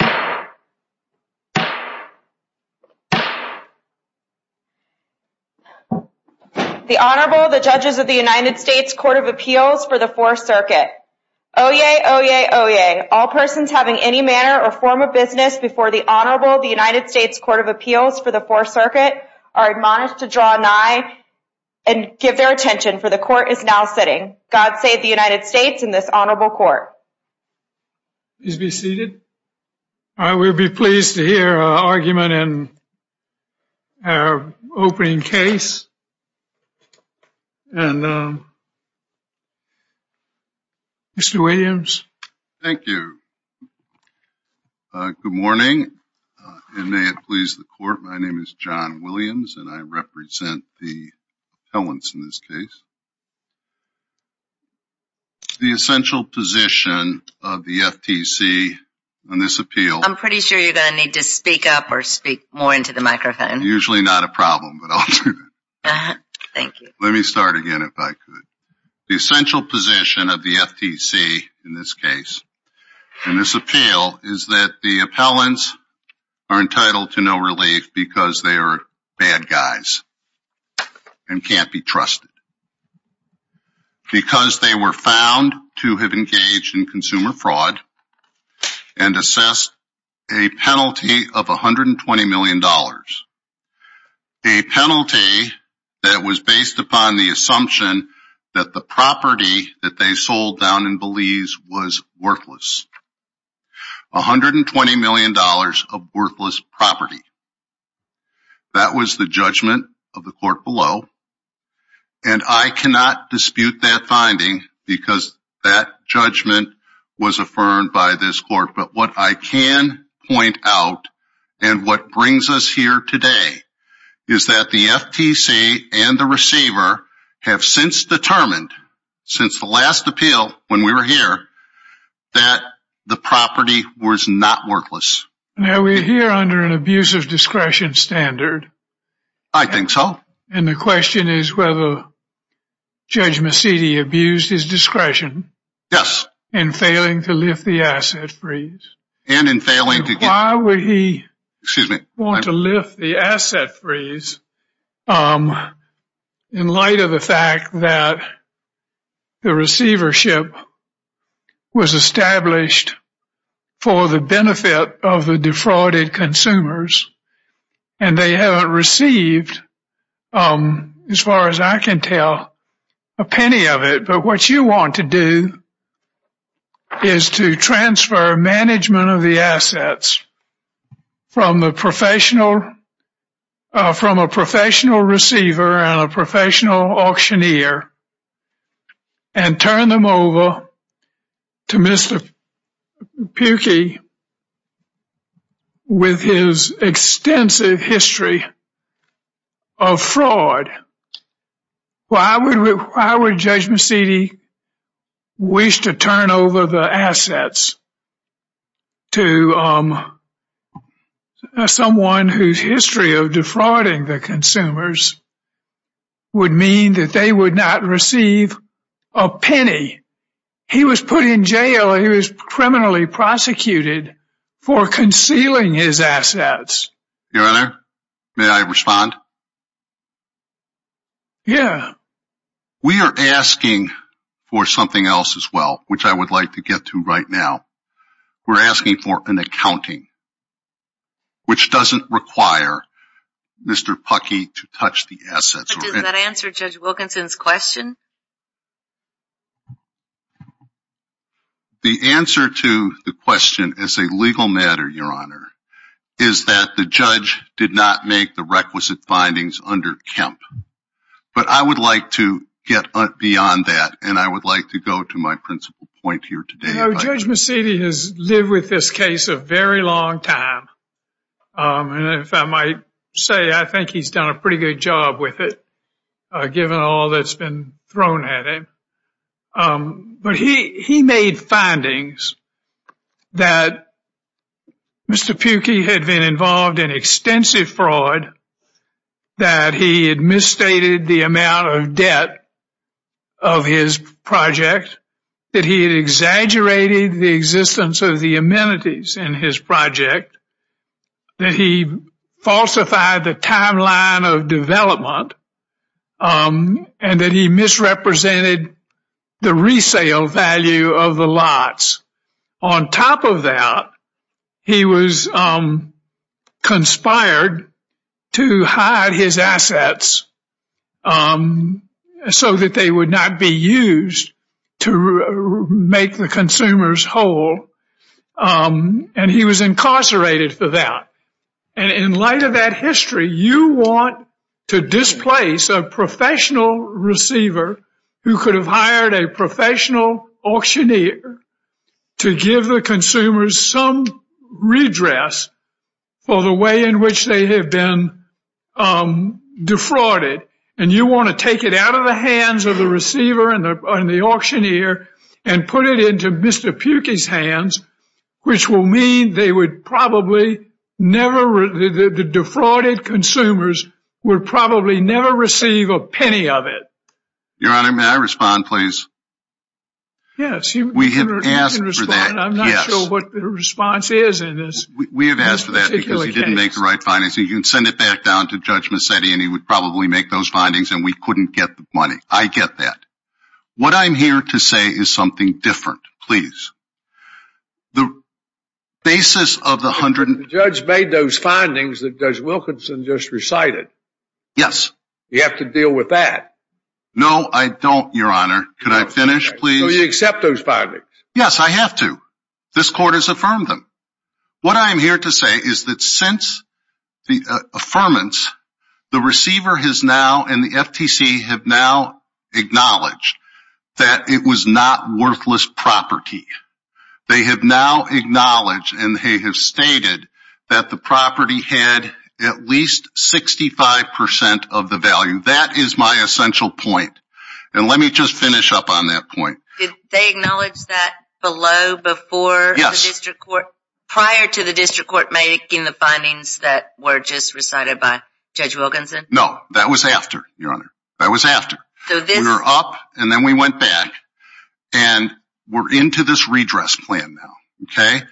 The Honorable, the Judges of the United States Court of Appeals for the Fourth Circuit. Oyez! Oyez! Oyez! All persons having any manner or form of business before the Honorable, the United States Court of Appeals for the Fourth Circuit are admonished to draw nigh and give their attention, for the Court is now sitting. God save the United States and this Honorable Court. Please be seated. I would be pleased to hear an argument in our opening case. Mr. Williams. Thank you. Good morning, and may it please the Court, my name is John Williams and I represent the appellants in this case. The essential position of the FTC on this appeal. I'm pretty sure you're going to need to speak up or speak more into the microphone. Usually not a problem, but I'll do that. Thank you. Let me start again if I could. The essential position of the FTC in this case, in this appeal, is that the appellants are entitled to no relief because they are bad guys and can't be trusted. Because they were found to have engaged in consumer fraud and assessed a penalty of $120 million. A penalty that was based upon the assumption that the property that they sold down in Belize was worthless. $120 million of worthless property. That was the judgment of the Court below and I cannot dispute that finding because that judgment was affirmed by this Court. But what I can point out and what brings us here today is that the FTC and the receiver have since determined, since the last appeal when we were here, that the property was not worthless. Now we're here under an abuse of discretion standard. I think so. And the question is whether Judge Mecedi abused his discretion. Yes. In failing to lift the asset freeze. Why would he want to lift the asset freeze in light of the fact that the receivership was established for the benefit of the defrauded consumers and they haven't received, as far as I can tell, a penny of it. But what you want to do is to transfer management of the assets from a professional receiver and a professional of fraud. Why would Judge Mecedi wish to turn over the assets to someone whose history of defrauding the consumers would mean that they would not receive a penny? He was put in jail. He was criminally prosecuted for concealing his assets. Your Honor, may I respond? Yeah. We are asking for something else as well, which I would like to get to right now. We're asking for an accounting, which doesn't require Mr. Puckey to touch the assets. Does that answer Judge Wilkinson's question? The answer to the question as a legal matter, Your Honor, is that the judge did not make the requisite findings under Kemp. But I would like to get beyond that. And I would like to go to my principal point here today. Judge Mecedi has lived with this case a very long time. And if I might say, I think he's done a pretty good job with it, given all that's been thrown at him. But he made findings that Mr. Puckey had been involved in extensive fraud, that he had misstated the amount of debt of his project, that he had exaggerated the existence of the amenities in his project, that he falsified the timeline of development, and that he misrepresented the resale value of the lots. On top of that, he was conspired to hide his assets so that they would not be used to make the consumers whole. And he was incarcerated for that. And in light of that history, you want to displace a professional receiver who could have hired a professional auctioneer to give the consumers some redress for the way in which they have been defrauded. And you want to take it out of the hands of the receiver and the auctioneer and put it into Mr. Puckey's hands, which will mean they would probably never, the defrauded consumers would probably never receive a penny of it. Your Honor, may I respond, please? Yes, we have asked for that. I'm not sure what the response is in this. We have asked for that because he didn't make the right findings. You can send it back down to Judge Money. I get that. What I'm here to say is something different, please. The basis of the hundred... The judge made those findings that Judge Wilkinson just recited. Yes. You have to deal with that. No, I don't, Your Honor. Can I finish, please? So you accept those findings? Yes, I have to. This court has affirmed them. What I'm here to say is that since the affirmance, the receiver has now and the FTC have now acknowledged that it was not worthless property. They have now acknowledged and they have stated that the property had at least 65% of the value. That is my essential point. And let me just finish up on that point. Did they acknowledge that below before the district court, prior to the district court making the findings that were just recited by Judge Wilkinson? No, that was after, Your Honor. That was after. We were up and then we went back and we're into this redress plan now. Okay.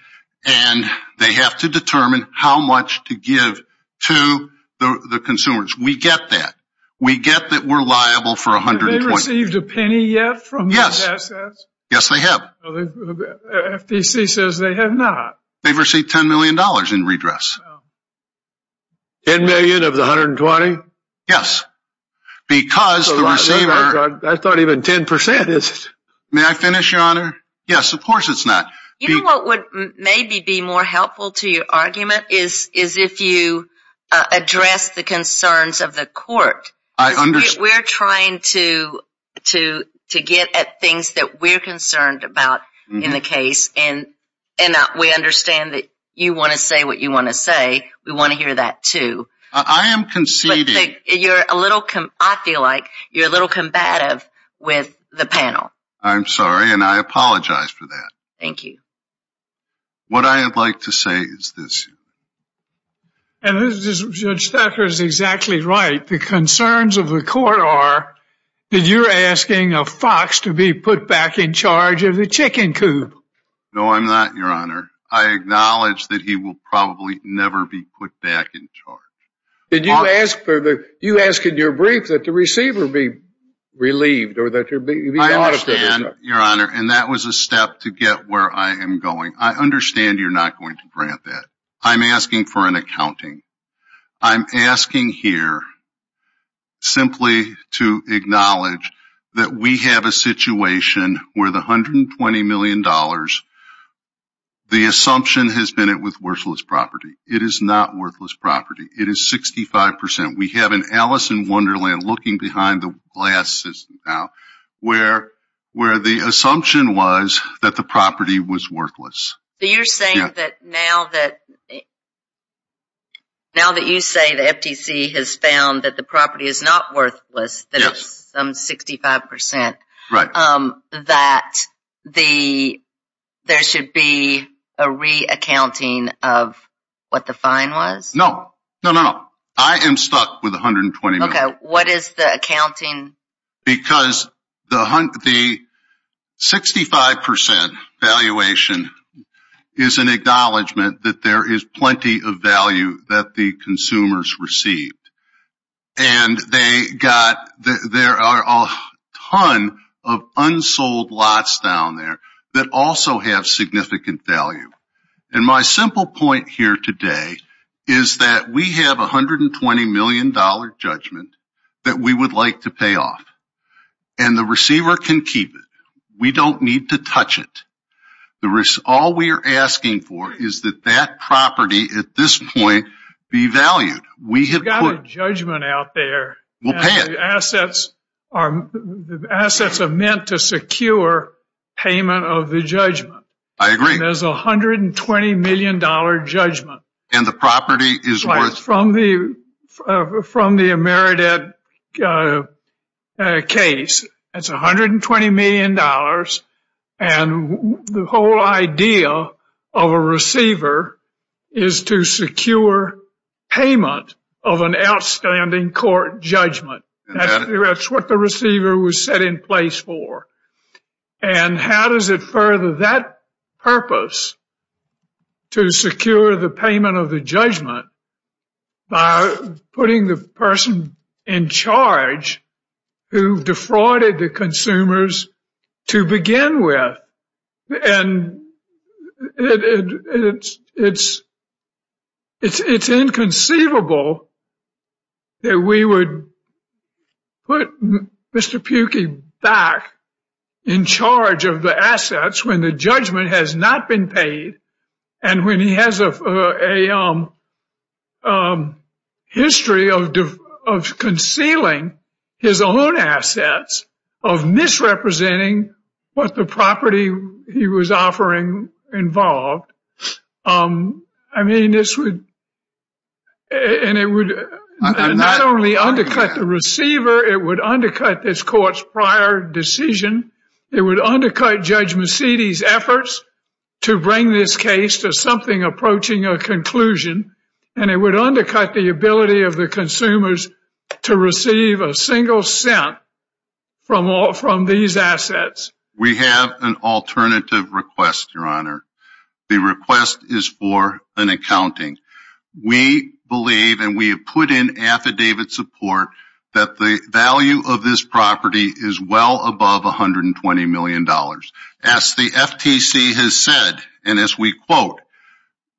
And they have to determine how much to give to the consumers. We get that. We get that we're liable for $120,000. Have they received a penny yet from those assets? Yes, they have. The FTC says they have not. They've received $10 million in redress. $10 million of the $120,000? Yes, because the receiver... That's not even 10% is it? May I finish, Your Honor? Yes, of course it's not. You know what would maybe be more helpful to your argument is if you address the concerns of the court. I understand. We're trying to get at things that we're concerned about in the case. And we understand that you want to say what you want to say. We want to hear that too. I am conceding. You're a little, I feel like you're a little combative with the panel. I'm sorry, and I apologize for that. Thank you. What I'd like to say is this. And Judge Thacker is exactly right. The concerns of the court are that you're asking a fox to be put back in charge of the chicken coop. No, I'm not, Your Honor. I acknowledge that he will probably never be put back in charge. Did you ask for the, you asked in your brief that the receiver be relieved or that you're being audited? I understand, Your Honor. And that was a step to get where I am going. I understand you're not going to grant that. I'm asking for an accounting. I'm asking here simply to acknowledge that we have a situation where the $120 million, the assumption has been it was worthless property. It is not worthless property. It is 65%. We have an Alice in Wonderland looking behind the glasses now where the assumption was that the property was worthless. So you're saying that now that, now that you say the FTC has found that the property is not worthless, that it's some 65%, that the, there should be a reaccounting of what the fine was? No, no, no. I am stuck with $120 million. Okay. What is the accounting? Because the 65% valuation is an acknowledgment that there is plenty of value that the consumers received. And they got, there are a ton of unsold lots down there that also have significant value. And my simple point here today is that we have $120 million judgment that we would like to pay off. And the receiver can keep it. We don't need to touch it. The risk, all we are asking for is that that property at this point be valued. We have got a judgment out there. We'll pay it. Assets are, assets are meant to secure payment of the judgment. I agree. And there's a $120 million judgment. And the property is worth. Right, from the, from the Emeredit case, it's $120 million. And the whole idea of a receiver is to secure payment of an outstanding court judgment. That's what the receiver was set in place for. And how does it further? That purpose to secure the payment of the judgment by putting the person in charge who defrauded the consumers to begin with. And it's, it's, it's inconceivable that we would put Mr. Pukie back in charge of the assets when the judgment has not been paid. And when he has a history of concealing his own assets, of misrepresenting what the property he was offering involved, I mean, this would, and it would not only undercut the receiver, it would undercut this court's prior decision. It would undercut Judge Mecidi's efforts to bring this case to something approaching a conclusion, and it would undercut the ability of the consumers to receive a single cent from all, from these assets. We have an alternative request, Your Honor. The request is for an accounting. We believe, and we have put in affidavit support, that the value of this property is well above $120 million. As the FTC has said, and as we quote,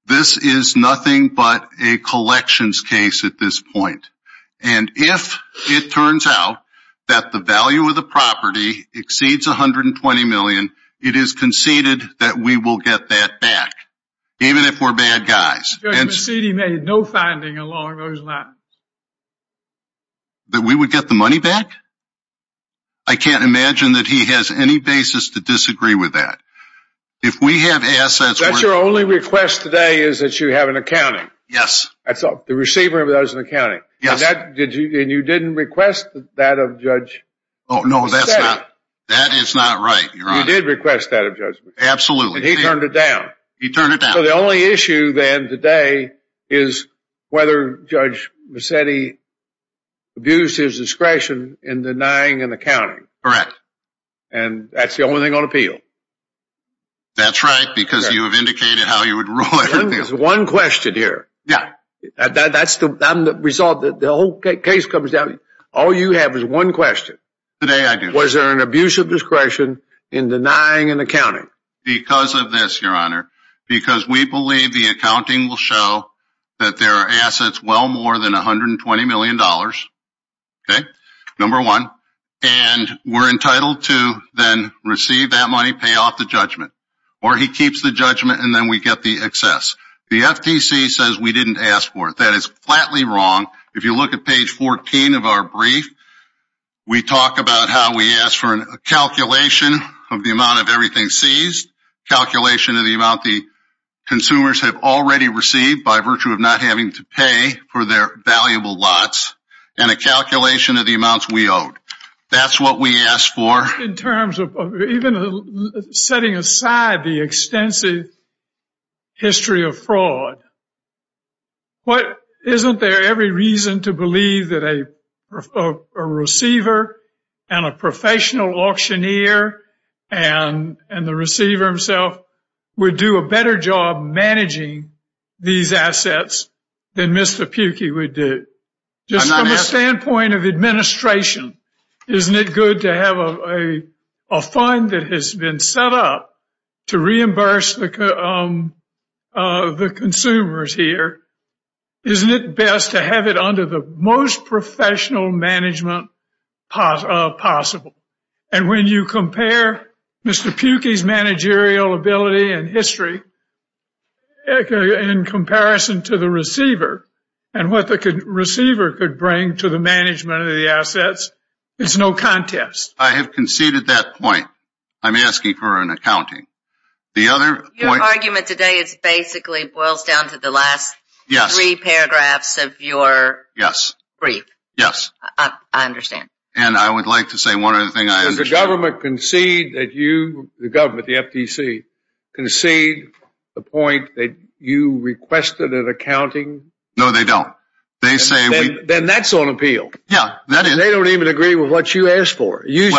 this is nothing but a collections case at this point. And if it turns out that the value of the property exceeds $120 million, it is conceded that we will get that back, even if we're bad guys. Judge Mecidi made no finding along those lines. That we would get the money back? I can't imagine that he has any basis to disagree with that. If we have assets... That's your only request today is that you have an accounting. Yes. That's the receiver of those in accounting. Yes. And that, did you, and you didn't request that of Judge... Oh, no, that's not, that is not right, Your Honor. You did request that of Judge Mecidi. Absolutely. And he turned it down. He turned it down. So the only issue then today is whether Judge Mecidi abused his discretion in denying an accounting. Correct. And that's the only thing on appeal. That's right, because you have indicated how you would rule everything. There's one question here. Yeah. That's the result, the whole case comes down, all you have is one question. Today, I do. Was there an abuse of discretion in denying an accounting? Because of this, Your Honor, because we believe the accounting will show that there are assets well more than $120 million. Okay. Number one, and we're entitled to then receive that money, pay off the judgment, or he keeps the judgment and then we get the excess. The FTC says we didn't ask for it. That is flatly wrong. If you look at page 14 of our brief, we talk about how we ask for a calculation of the amount of everything seized, calculation of the amount the consumers have already received by virtue of not having to pay for their valuable lots, and a calculation of the amounts we owed. That's what we asked for. In terms of even setting aside the extensive history of fraud, isn't there every reason to believe that a receiver and a professional auctioneer and the receiver himself would do a better job managing these assets than Mr. Pukey would do? Just from a standpoint of administration, isn't it good to have a fund that has been set up to reimburse the consumers here? Isn't it best to have it under the most professional management possible? And when you compare Mr. Pukey's managerial ability and history in comparison to the receiver and what the receiver could bring to the management of the assets, it's no contest. I have conceded that point. I'm asking for an accounting. The other point... Your argument today is basically boils down to the last three paragraphs of your brief. I understand. And I would like to say one other thing. Does the government concede that you, the government, the FTC, concede the point that you requested an accounting? No, they don't. Then that's on appeal. Yeah, that is. They don't even agree with what you asked for. You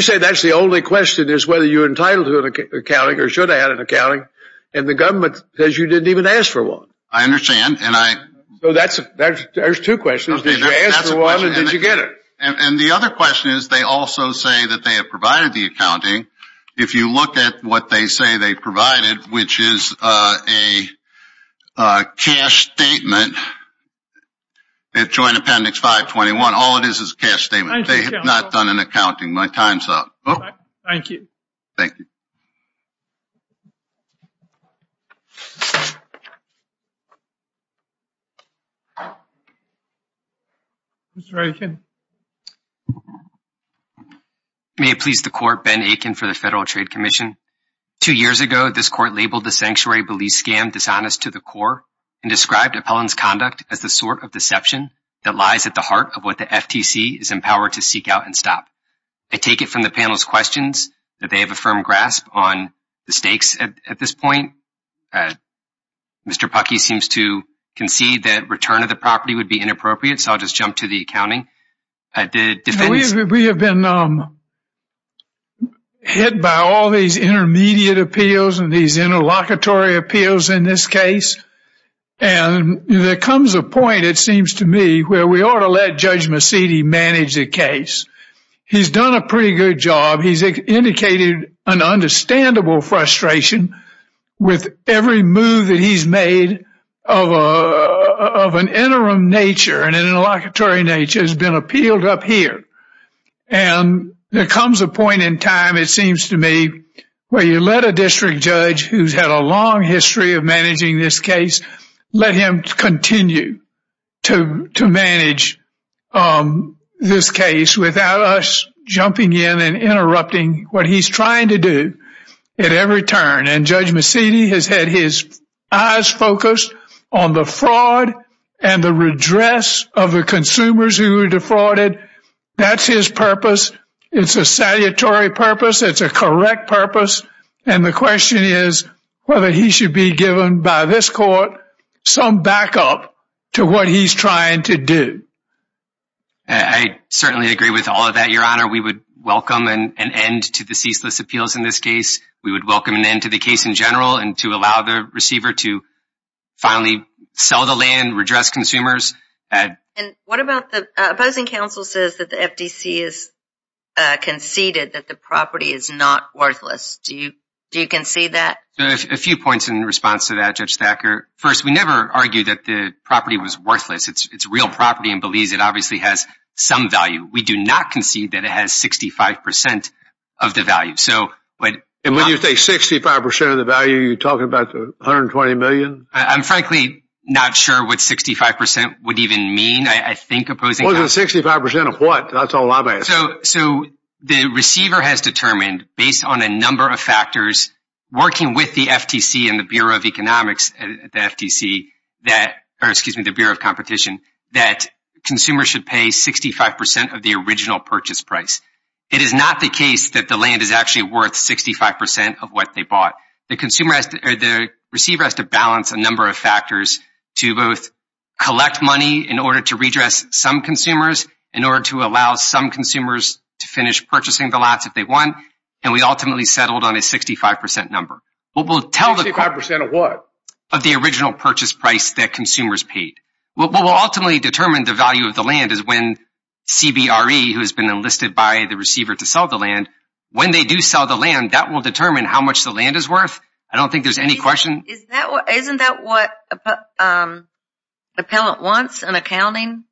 say that's the only question is whether you're entitled to an accounting or should have had an accounting. And the government says you didn't even ask for one. I understand. And I... So there's two questions. Did you ask for one or did you get it? And the other question is, they also say that they have provided the accounting. If you look at what they say they provided, which is a cash statement, Joint Appendix 521, all it is, is a cash statement. They have not done an accounting. My time's up. Thank you. Thank you. Mr. Rankin. May it please the court, Ben Akin for the Federal Trade Commission. Two years ago, this court labeled the sanctuary belief scam dishonest to the core and described Appellant's conduct as the sort of deception that lies at the heart of what the FTC is empowered to seek out and stop. I take it from the panel's questions that they have a firm grasp on the stakes at this point. Mr. Puckey seems to concede that return of the property would be inappropriate. So I'll just jump to the accounting. We have been hit by all these intermediate appeals and these interlocutory appeals in this case. And there comes a point, it seems to me, where we ought to let Judge Mecedi manage the case. He's done a pretty good job. He's indicated an understandable frustration with every move that he's made of an interim nature and an interlocutory nature has been appealed up here. And there comes a point in time, it seems to me, where you let a district judge who's had a long history of managing this case, let him continue to manage this case without us jumping in and interrupting what he's trying to do at every turn. And Judge Mecedi has had his eyes focused on the fraud and the redress of the consumers who were defrauded. That's his purpose. It's a salutary purpose. It's a correct purpose. And the question is whether he should be given by this court some backup to what he's trying to do. I certainly agree with all of that, Your Honor. We would welcome an end to the ceaseless appeals in this case. We would welcome an end to the case in general and to allow the receiver to finally sell the land, redress consumers. And what about the opposing counsel says that the FDC has conceded that the property is not worthless? Do you concede that? A few points in response to that, Judge Thacker. First, we never argue that the property was worthless. It's real property in Belize. It obviously has some value. We do not concede that it has 65 percent of the value. So when you say 65 percent of the value, you're talking about 120 million. I'm frankly not sure what 65 percent would even mean. I think opposing 65 percent of what? That's all I'm asking. So the receiver has determined, based on a number of factors, working with the FTC and the Bureau of Economics at the FTC, or excuse me, the Bureau of Competition, that consumers should pay 65 percent of the original purchase price. It is not the case that the land is actually worth 65 percent of what they bought. The receiver has to balance a number of factors to both collect money in order to redress some consumers, in order to allow some consumers to finish purchasing the lots if they want. And we ultimately settled on a 65 percent number. 65 percent of what? Of the original purchase price that consumers paid. What will ultimately determine the value of the land is when CBRE, who has been enlisted by the receiver to sell the land, when they do sell the land, that will determine how much the land is worth. I don't think there's any question. Isn't that what an appellant wants, an accounting?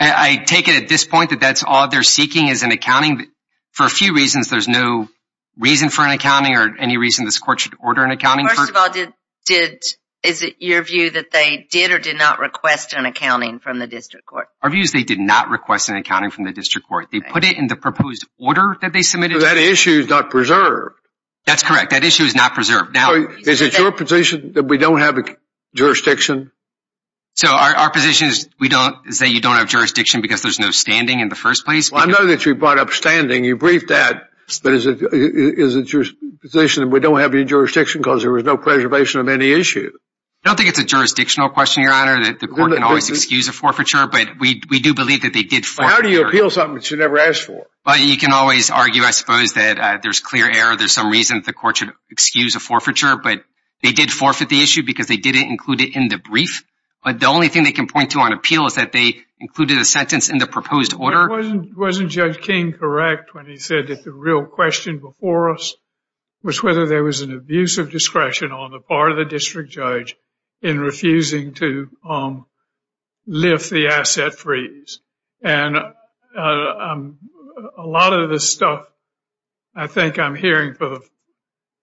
I take it at this point that that's all they're seeking is an accounting. For a few reasons, there's no reason for an accounting or any reason this court should order an accounting. First of all, is it your view that they did or did not request an accounting from the district court? Our view is they did not request an accounting from the district court. They put it in the proposed order that they submitted. That issue is not preserved. That's correct. That issue is not preserved. Now, is it your position that we don't have a jurisdiction? So our position is that you don't have jurisdiction because there's no standing in the first place? I know that you brought up standing. You briefed that. But is it your position that we don't have any jurisdiction because there was no preservation of any issue? I don't think it's a jurisdictional question, Your Honor, that the court can always excuse a forfeiture. But we do believe that they did forfeit. How do you appeal something that you never asked for? Well, you can always argue, I suppose, that there's clear error. There's some reason the court should excuse a forfeiture. But they did forfeit the issue because they didn't include it in the brief. But the only thing they can point to on appeal is that they included a sentence in the proposed order. Wasn't Judge King correct when he said that the real question before us was whether there was an abuse of discretion on the part of the district judge in refusing to lift the asset freeze? And a lot of this stuff, I think I'm hearing for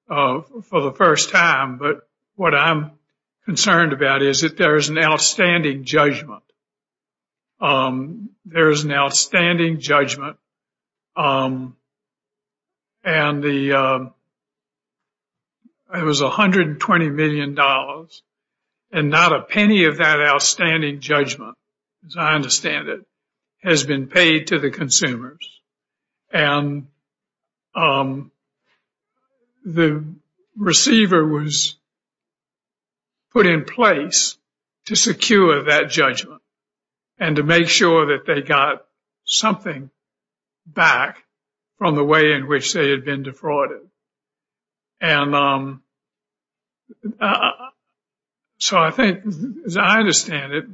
the first time. But what I'm concerned about is that there is an outstanding judgment. There is an outstanding judgment. And it was $120 million and not a penny of that outstanding judgment, as I understand it, has been paid to the consumers. And the receiver was put in place to secure that judgment and to make sure that they got something back from the way in which they had been defrauded. And so I think, as I understand it,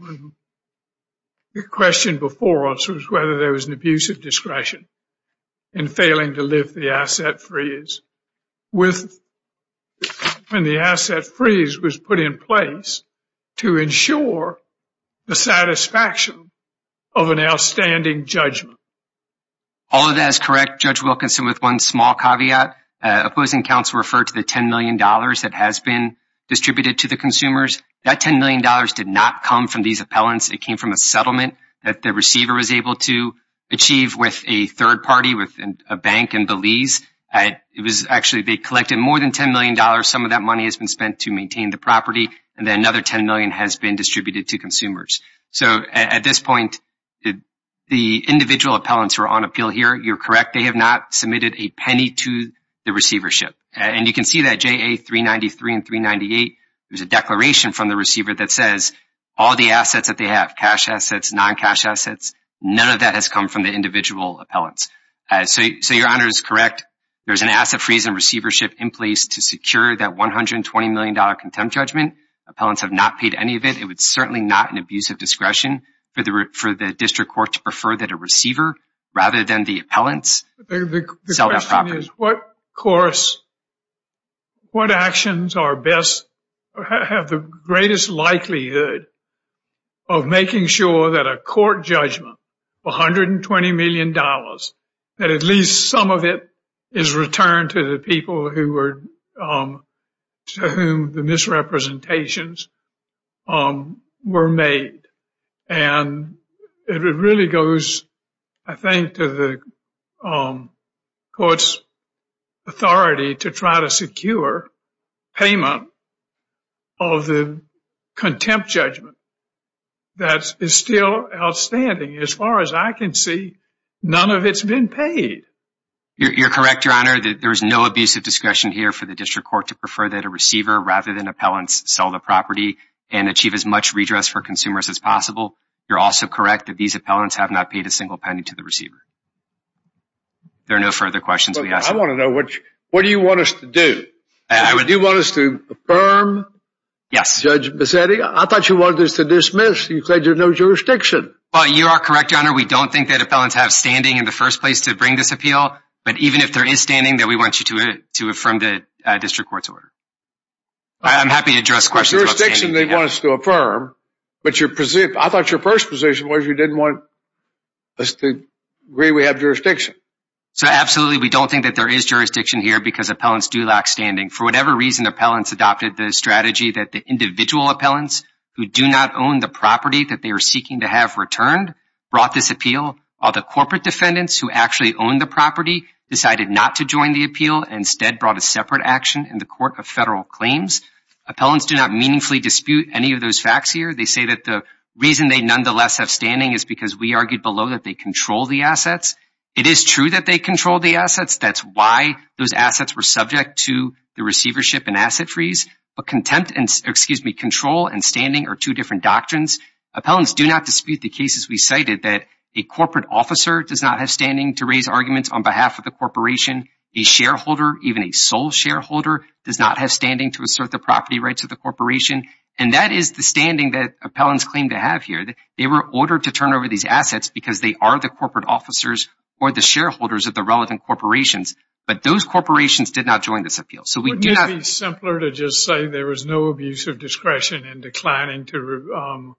the question before us was whether there was an abuse of discretion in failing to lift the asset freeze with when the asset freeze was put in place to ensure the satisfaction of an outstanding judgment. All of that is correct. Judge Wilkinson, with one small caveat, opposing counsel referred to the $10 million that has been distributed to the consumers. That $10 million did not come from these appellants. It came from a settlement that the receiver was able to achieve with a third party, with a bank in Belize. It was actually they collected more than $10 million. Some of that money has been spent to maintain the property. And then another $10 million has been distributed to consumers. So at this point, the individual appellants who are on appeal here, you're correct. They have not submitted a penny to the receivership. And you can see that JA 393 and 398, there's a declaration from the receiver that says all the assets that they have, cash assets, non-cash assets, none of that has come from the individual appellants. So your Honor is correct. There's an asset freeze and receivership in place to secure that $120 million contempt judgment. Appellants have not paid any of it. It's certainly not an abuse of discretion for the district court to prefer that a receiver, rather than the appellants, sell that property. The question is, what actions have the greatest likelihood of making sure that a court judgment, $120 million, that at least some of it is returned to the people to whom the misrepresentations were made? And it really goes, I think, to the court's authority to try to secure payment of the contempt judgment. That is still outstanding. As far as I can see, none of it's been paid. You're correct, Your Honor. There is no abuse of discretion here for the district court to prefer that a receiver, rather than appellants, sell the property and achieve as much redress for consumers as possible. You're also correct that these appellants have not paid a single penny to the receiver. There are no further questions. I want to know, what do you want us to do? Do you want us to affirm Judge Bassetti? I thought you wanted us to dismiss. You said there's no jurisdiction. Well, you are correct, Your Honor. We don't think that appellants have standing in the first place to bring this appeal. But even if there is standing, that we want you to affirm the district court's order. I'm happy to address questions about standing. There's jurisdiction they want us to affirm, but I thought your first position was you didn't want us to agree we have jurisdiction. So absolutely, we don't think that there is jurisdiction here because appellants do lack standing. For whatever reason, appellants adopted the strategy that the individual appellants who do not own the property that they are seeking to have returned brought this appeal. All the corporate defendants who actually own the property decided not to join the appeal and instead brought a separate action in the court of federal claims. Appellants do not meaningfully dispute any of those facts here. They say that the reason they nonetheless have standing is because we argued below that they control the assets. It is true that they control the assets. That's why those assets were subject to the receivership and asset freeze. But control and standing are two different doctrines. Appellants do not dispute the cases we cited that a corporate officer does not have standing to raise arguments on behalf of the corporation. A shareholder, even a sole shareholder, does not have standing to assert the property rights of the corporation. And that is the standing that appellants claim to have here. They were ordered to turn over these assets because they are the corporate officers or the shareholders of the relevant corporations. But those corporations did not join this appeal. Wouldn't it be simpler to just say there was no abuse of discretion in declining to...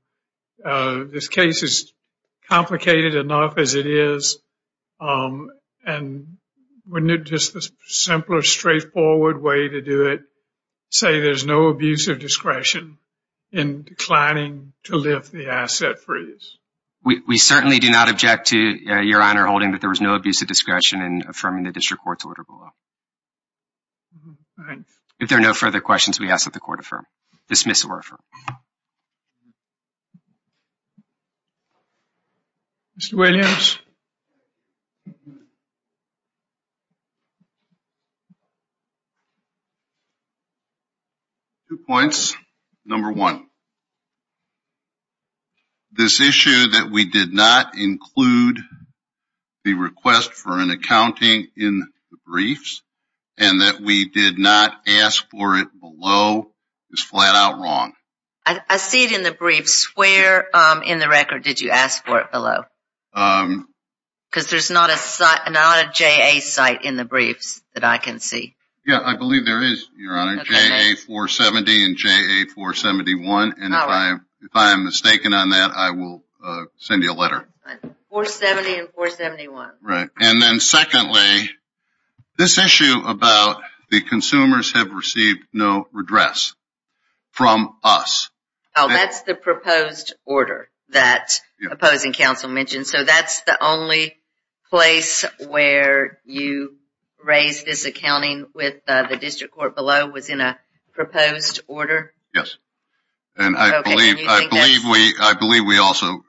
This case is complicated enough as it is. And wouldn't it be a simpler, straightforward way to do it? Say there's no abuse of discretion in declining to lift the asset freeze. We certainly do not object to Your Honor holding that there was no abuse of discretion in affirming the district court's order below. If there are no further questions, we ask that the court affirm. Dismiss or affirm. Mr. Williams. Two points. Number one. This issue that we did not include the request for an accounting in the briefs and that we did not ask for it below is flat out wrong. I see it in the briefs. Where in the record did you ask for it below? Because there's not a JA site in the briefs that I can see. Yeah, I believe there is, Your Honor. JA 470 and JA 471. And if I am mistaken on that, I will send you a letter. 470 and 471. Right. And then secondly, this issue about the consumers have received no redress from us. Oh, that's the proposed order that opposing counsel mentioned. So that's the only place where you raised this accounting with the district court below was in a proposed order? Yes. And I believe we also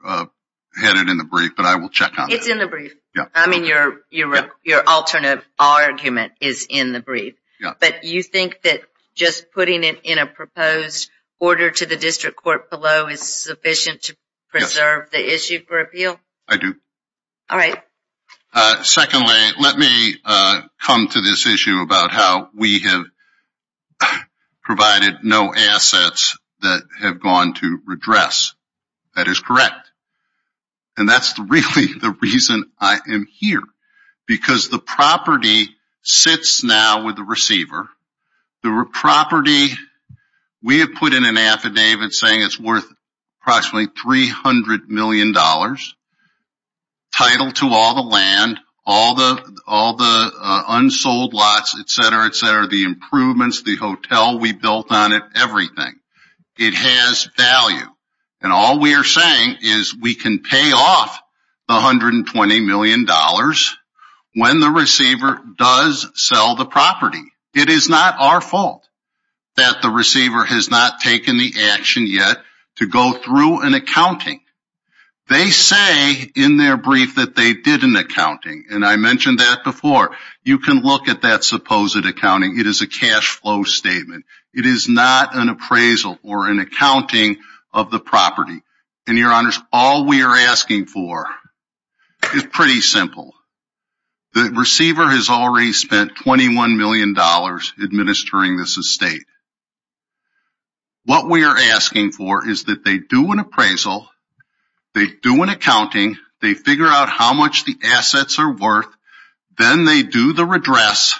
had it in the brief, but I will check on it. It's in the brief. I mean, your alternate argument is in the brief. But you think that just putting it in a proposed order to the district court below is sufficient to preserve the issue for appeal? I do. All right. Secondly, let me come to this issue about how we have provided no assets that have gone to redress. That is correct. And that's really the reason I am here, because the property sits now with the receiver. The property we have put in an affidavit saying it's worth approximately $300 million. Title to all the land, all the all the unsold lots, et cetera, et cetera, the improvements, the hotel we built on it, everything. It has value. And all we are saying is we can pay off $120 million when the receiver does sell the property. It is not our fault that the receiver has not taken the action yet to go through an accounting. They say in their brief that they did an accounting. And I mentioned that before. You can look at that supposed accounting. It is a cash flow statement. It is not an appraisal or an accounting of the property. And your honors, all we are asking for is pretty simple. The receiver has already spent $21 million administering this estate. What we are asking for is that they do an appraisal. They do an accounting. They figure out how much the assets are worth. Then they do the redress.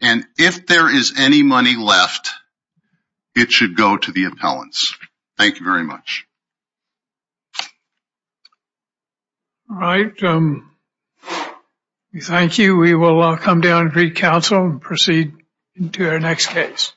And if there is any money left, it should go to the appellants. Thank you very much. All right. Thank you. We will come down to council and proceed to our next case.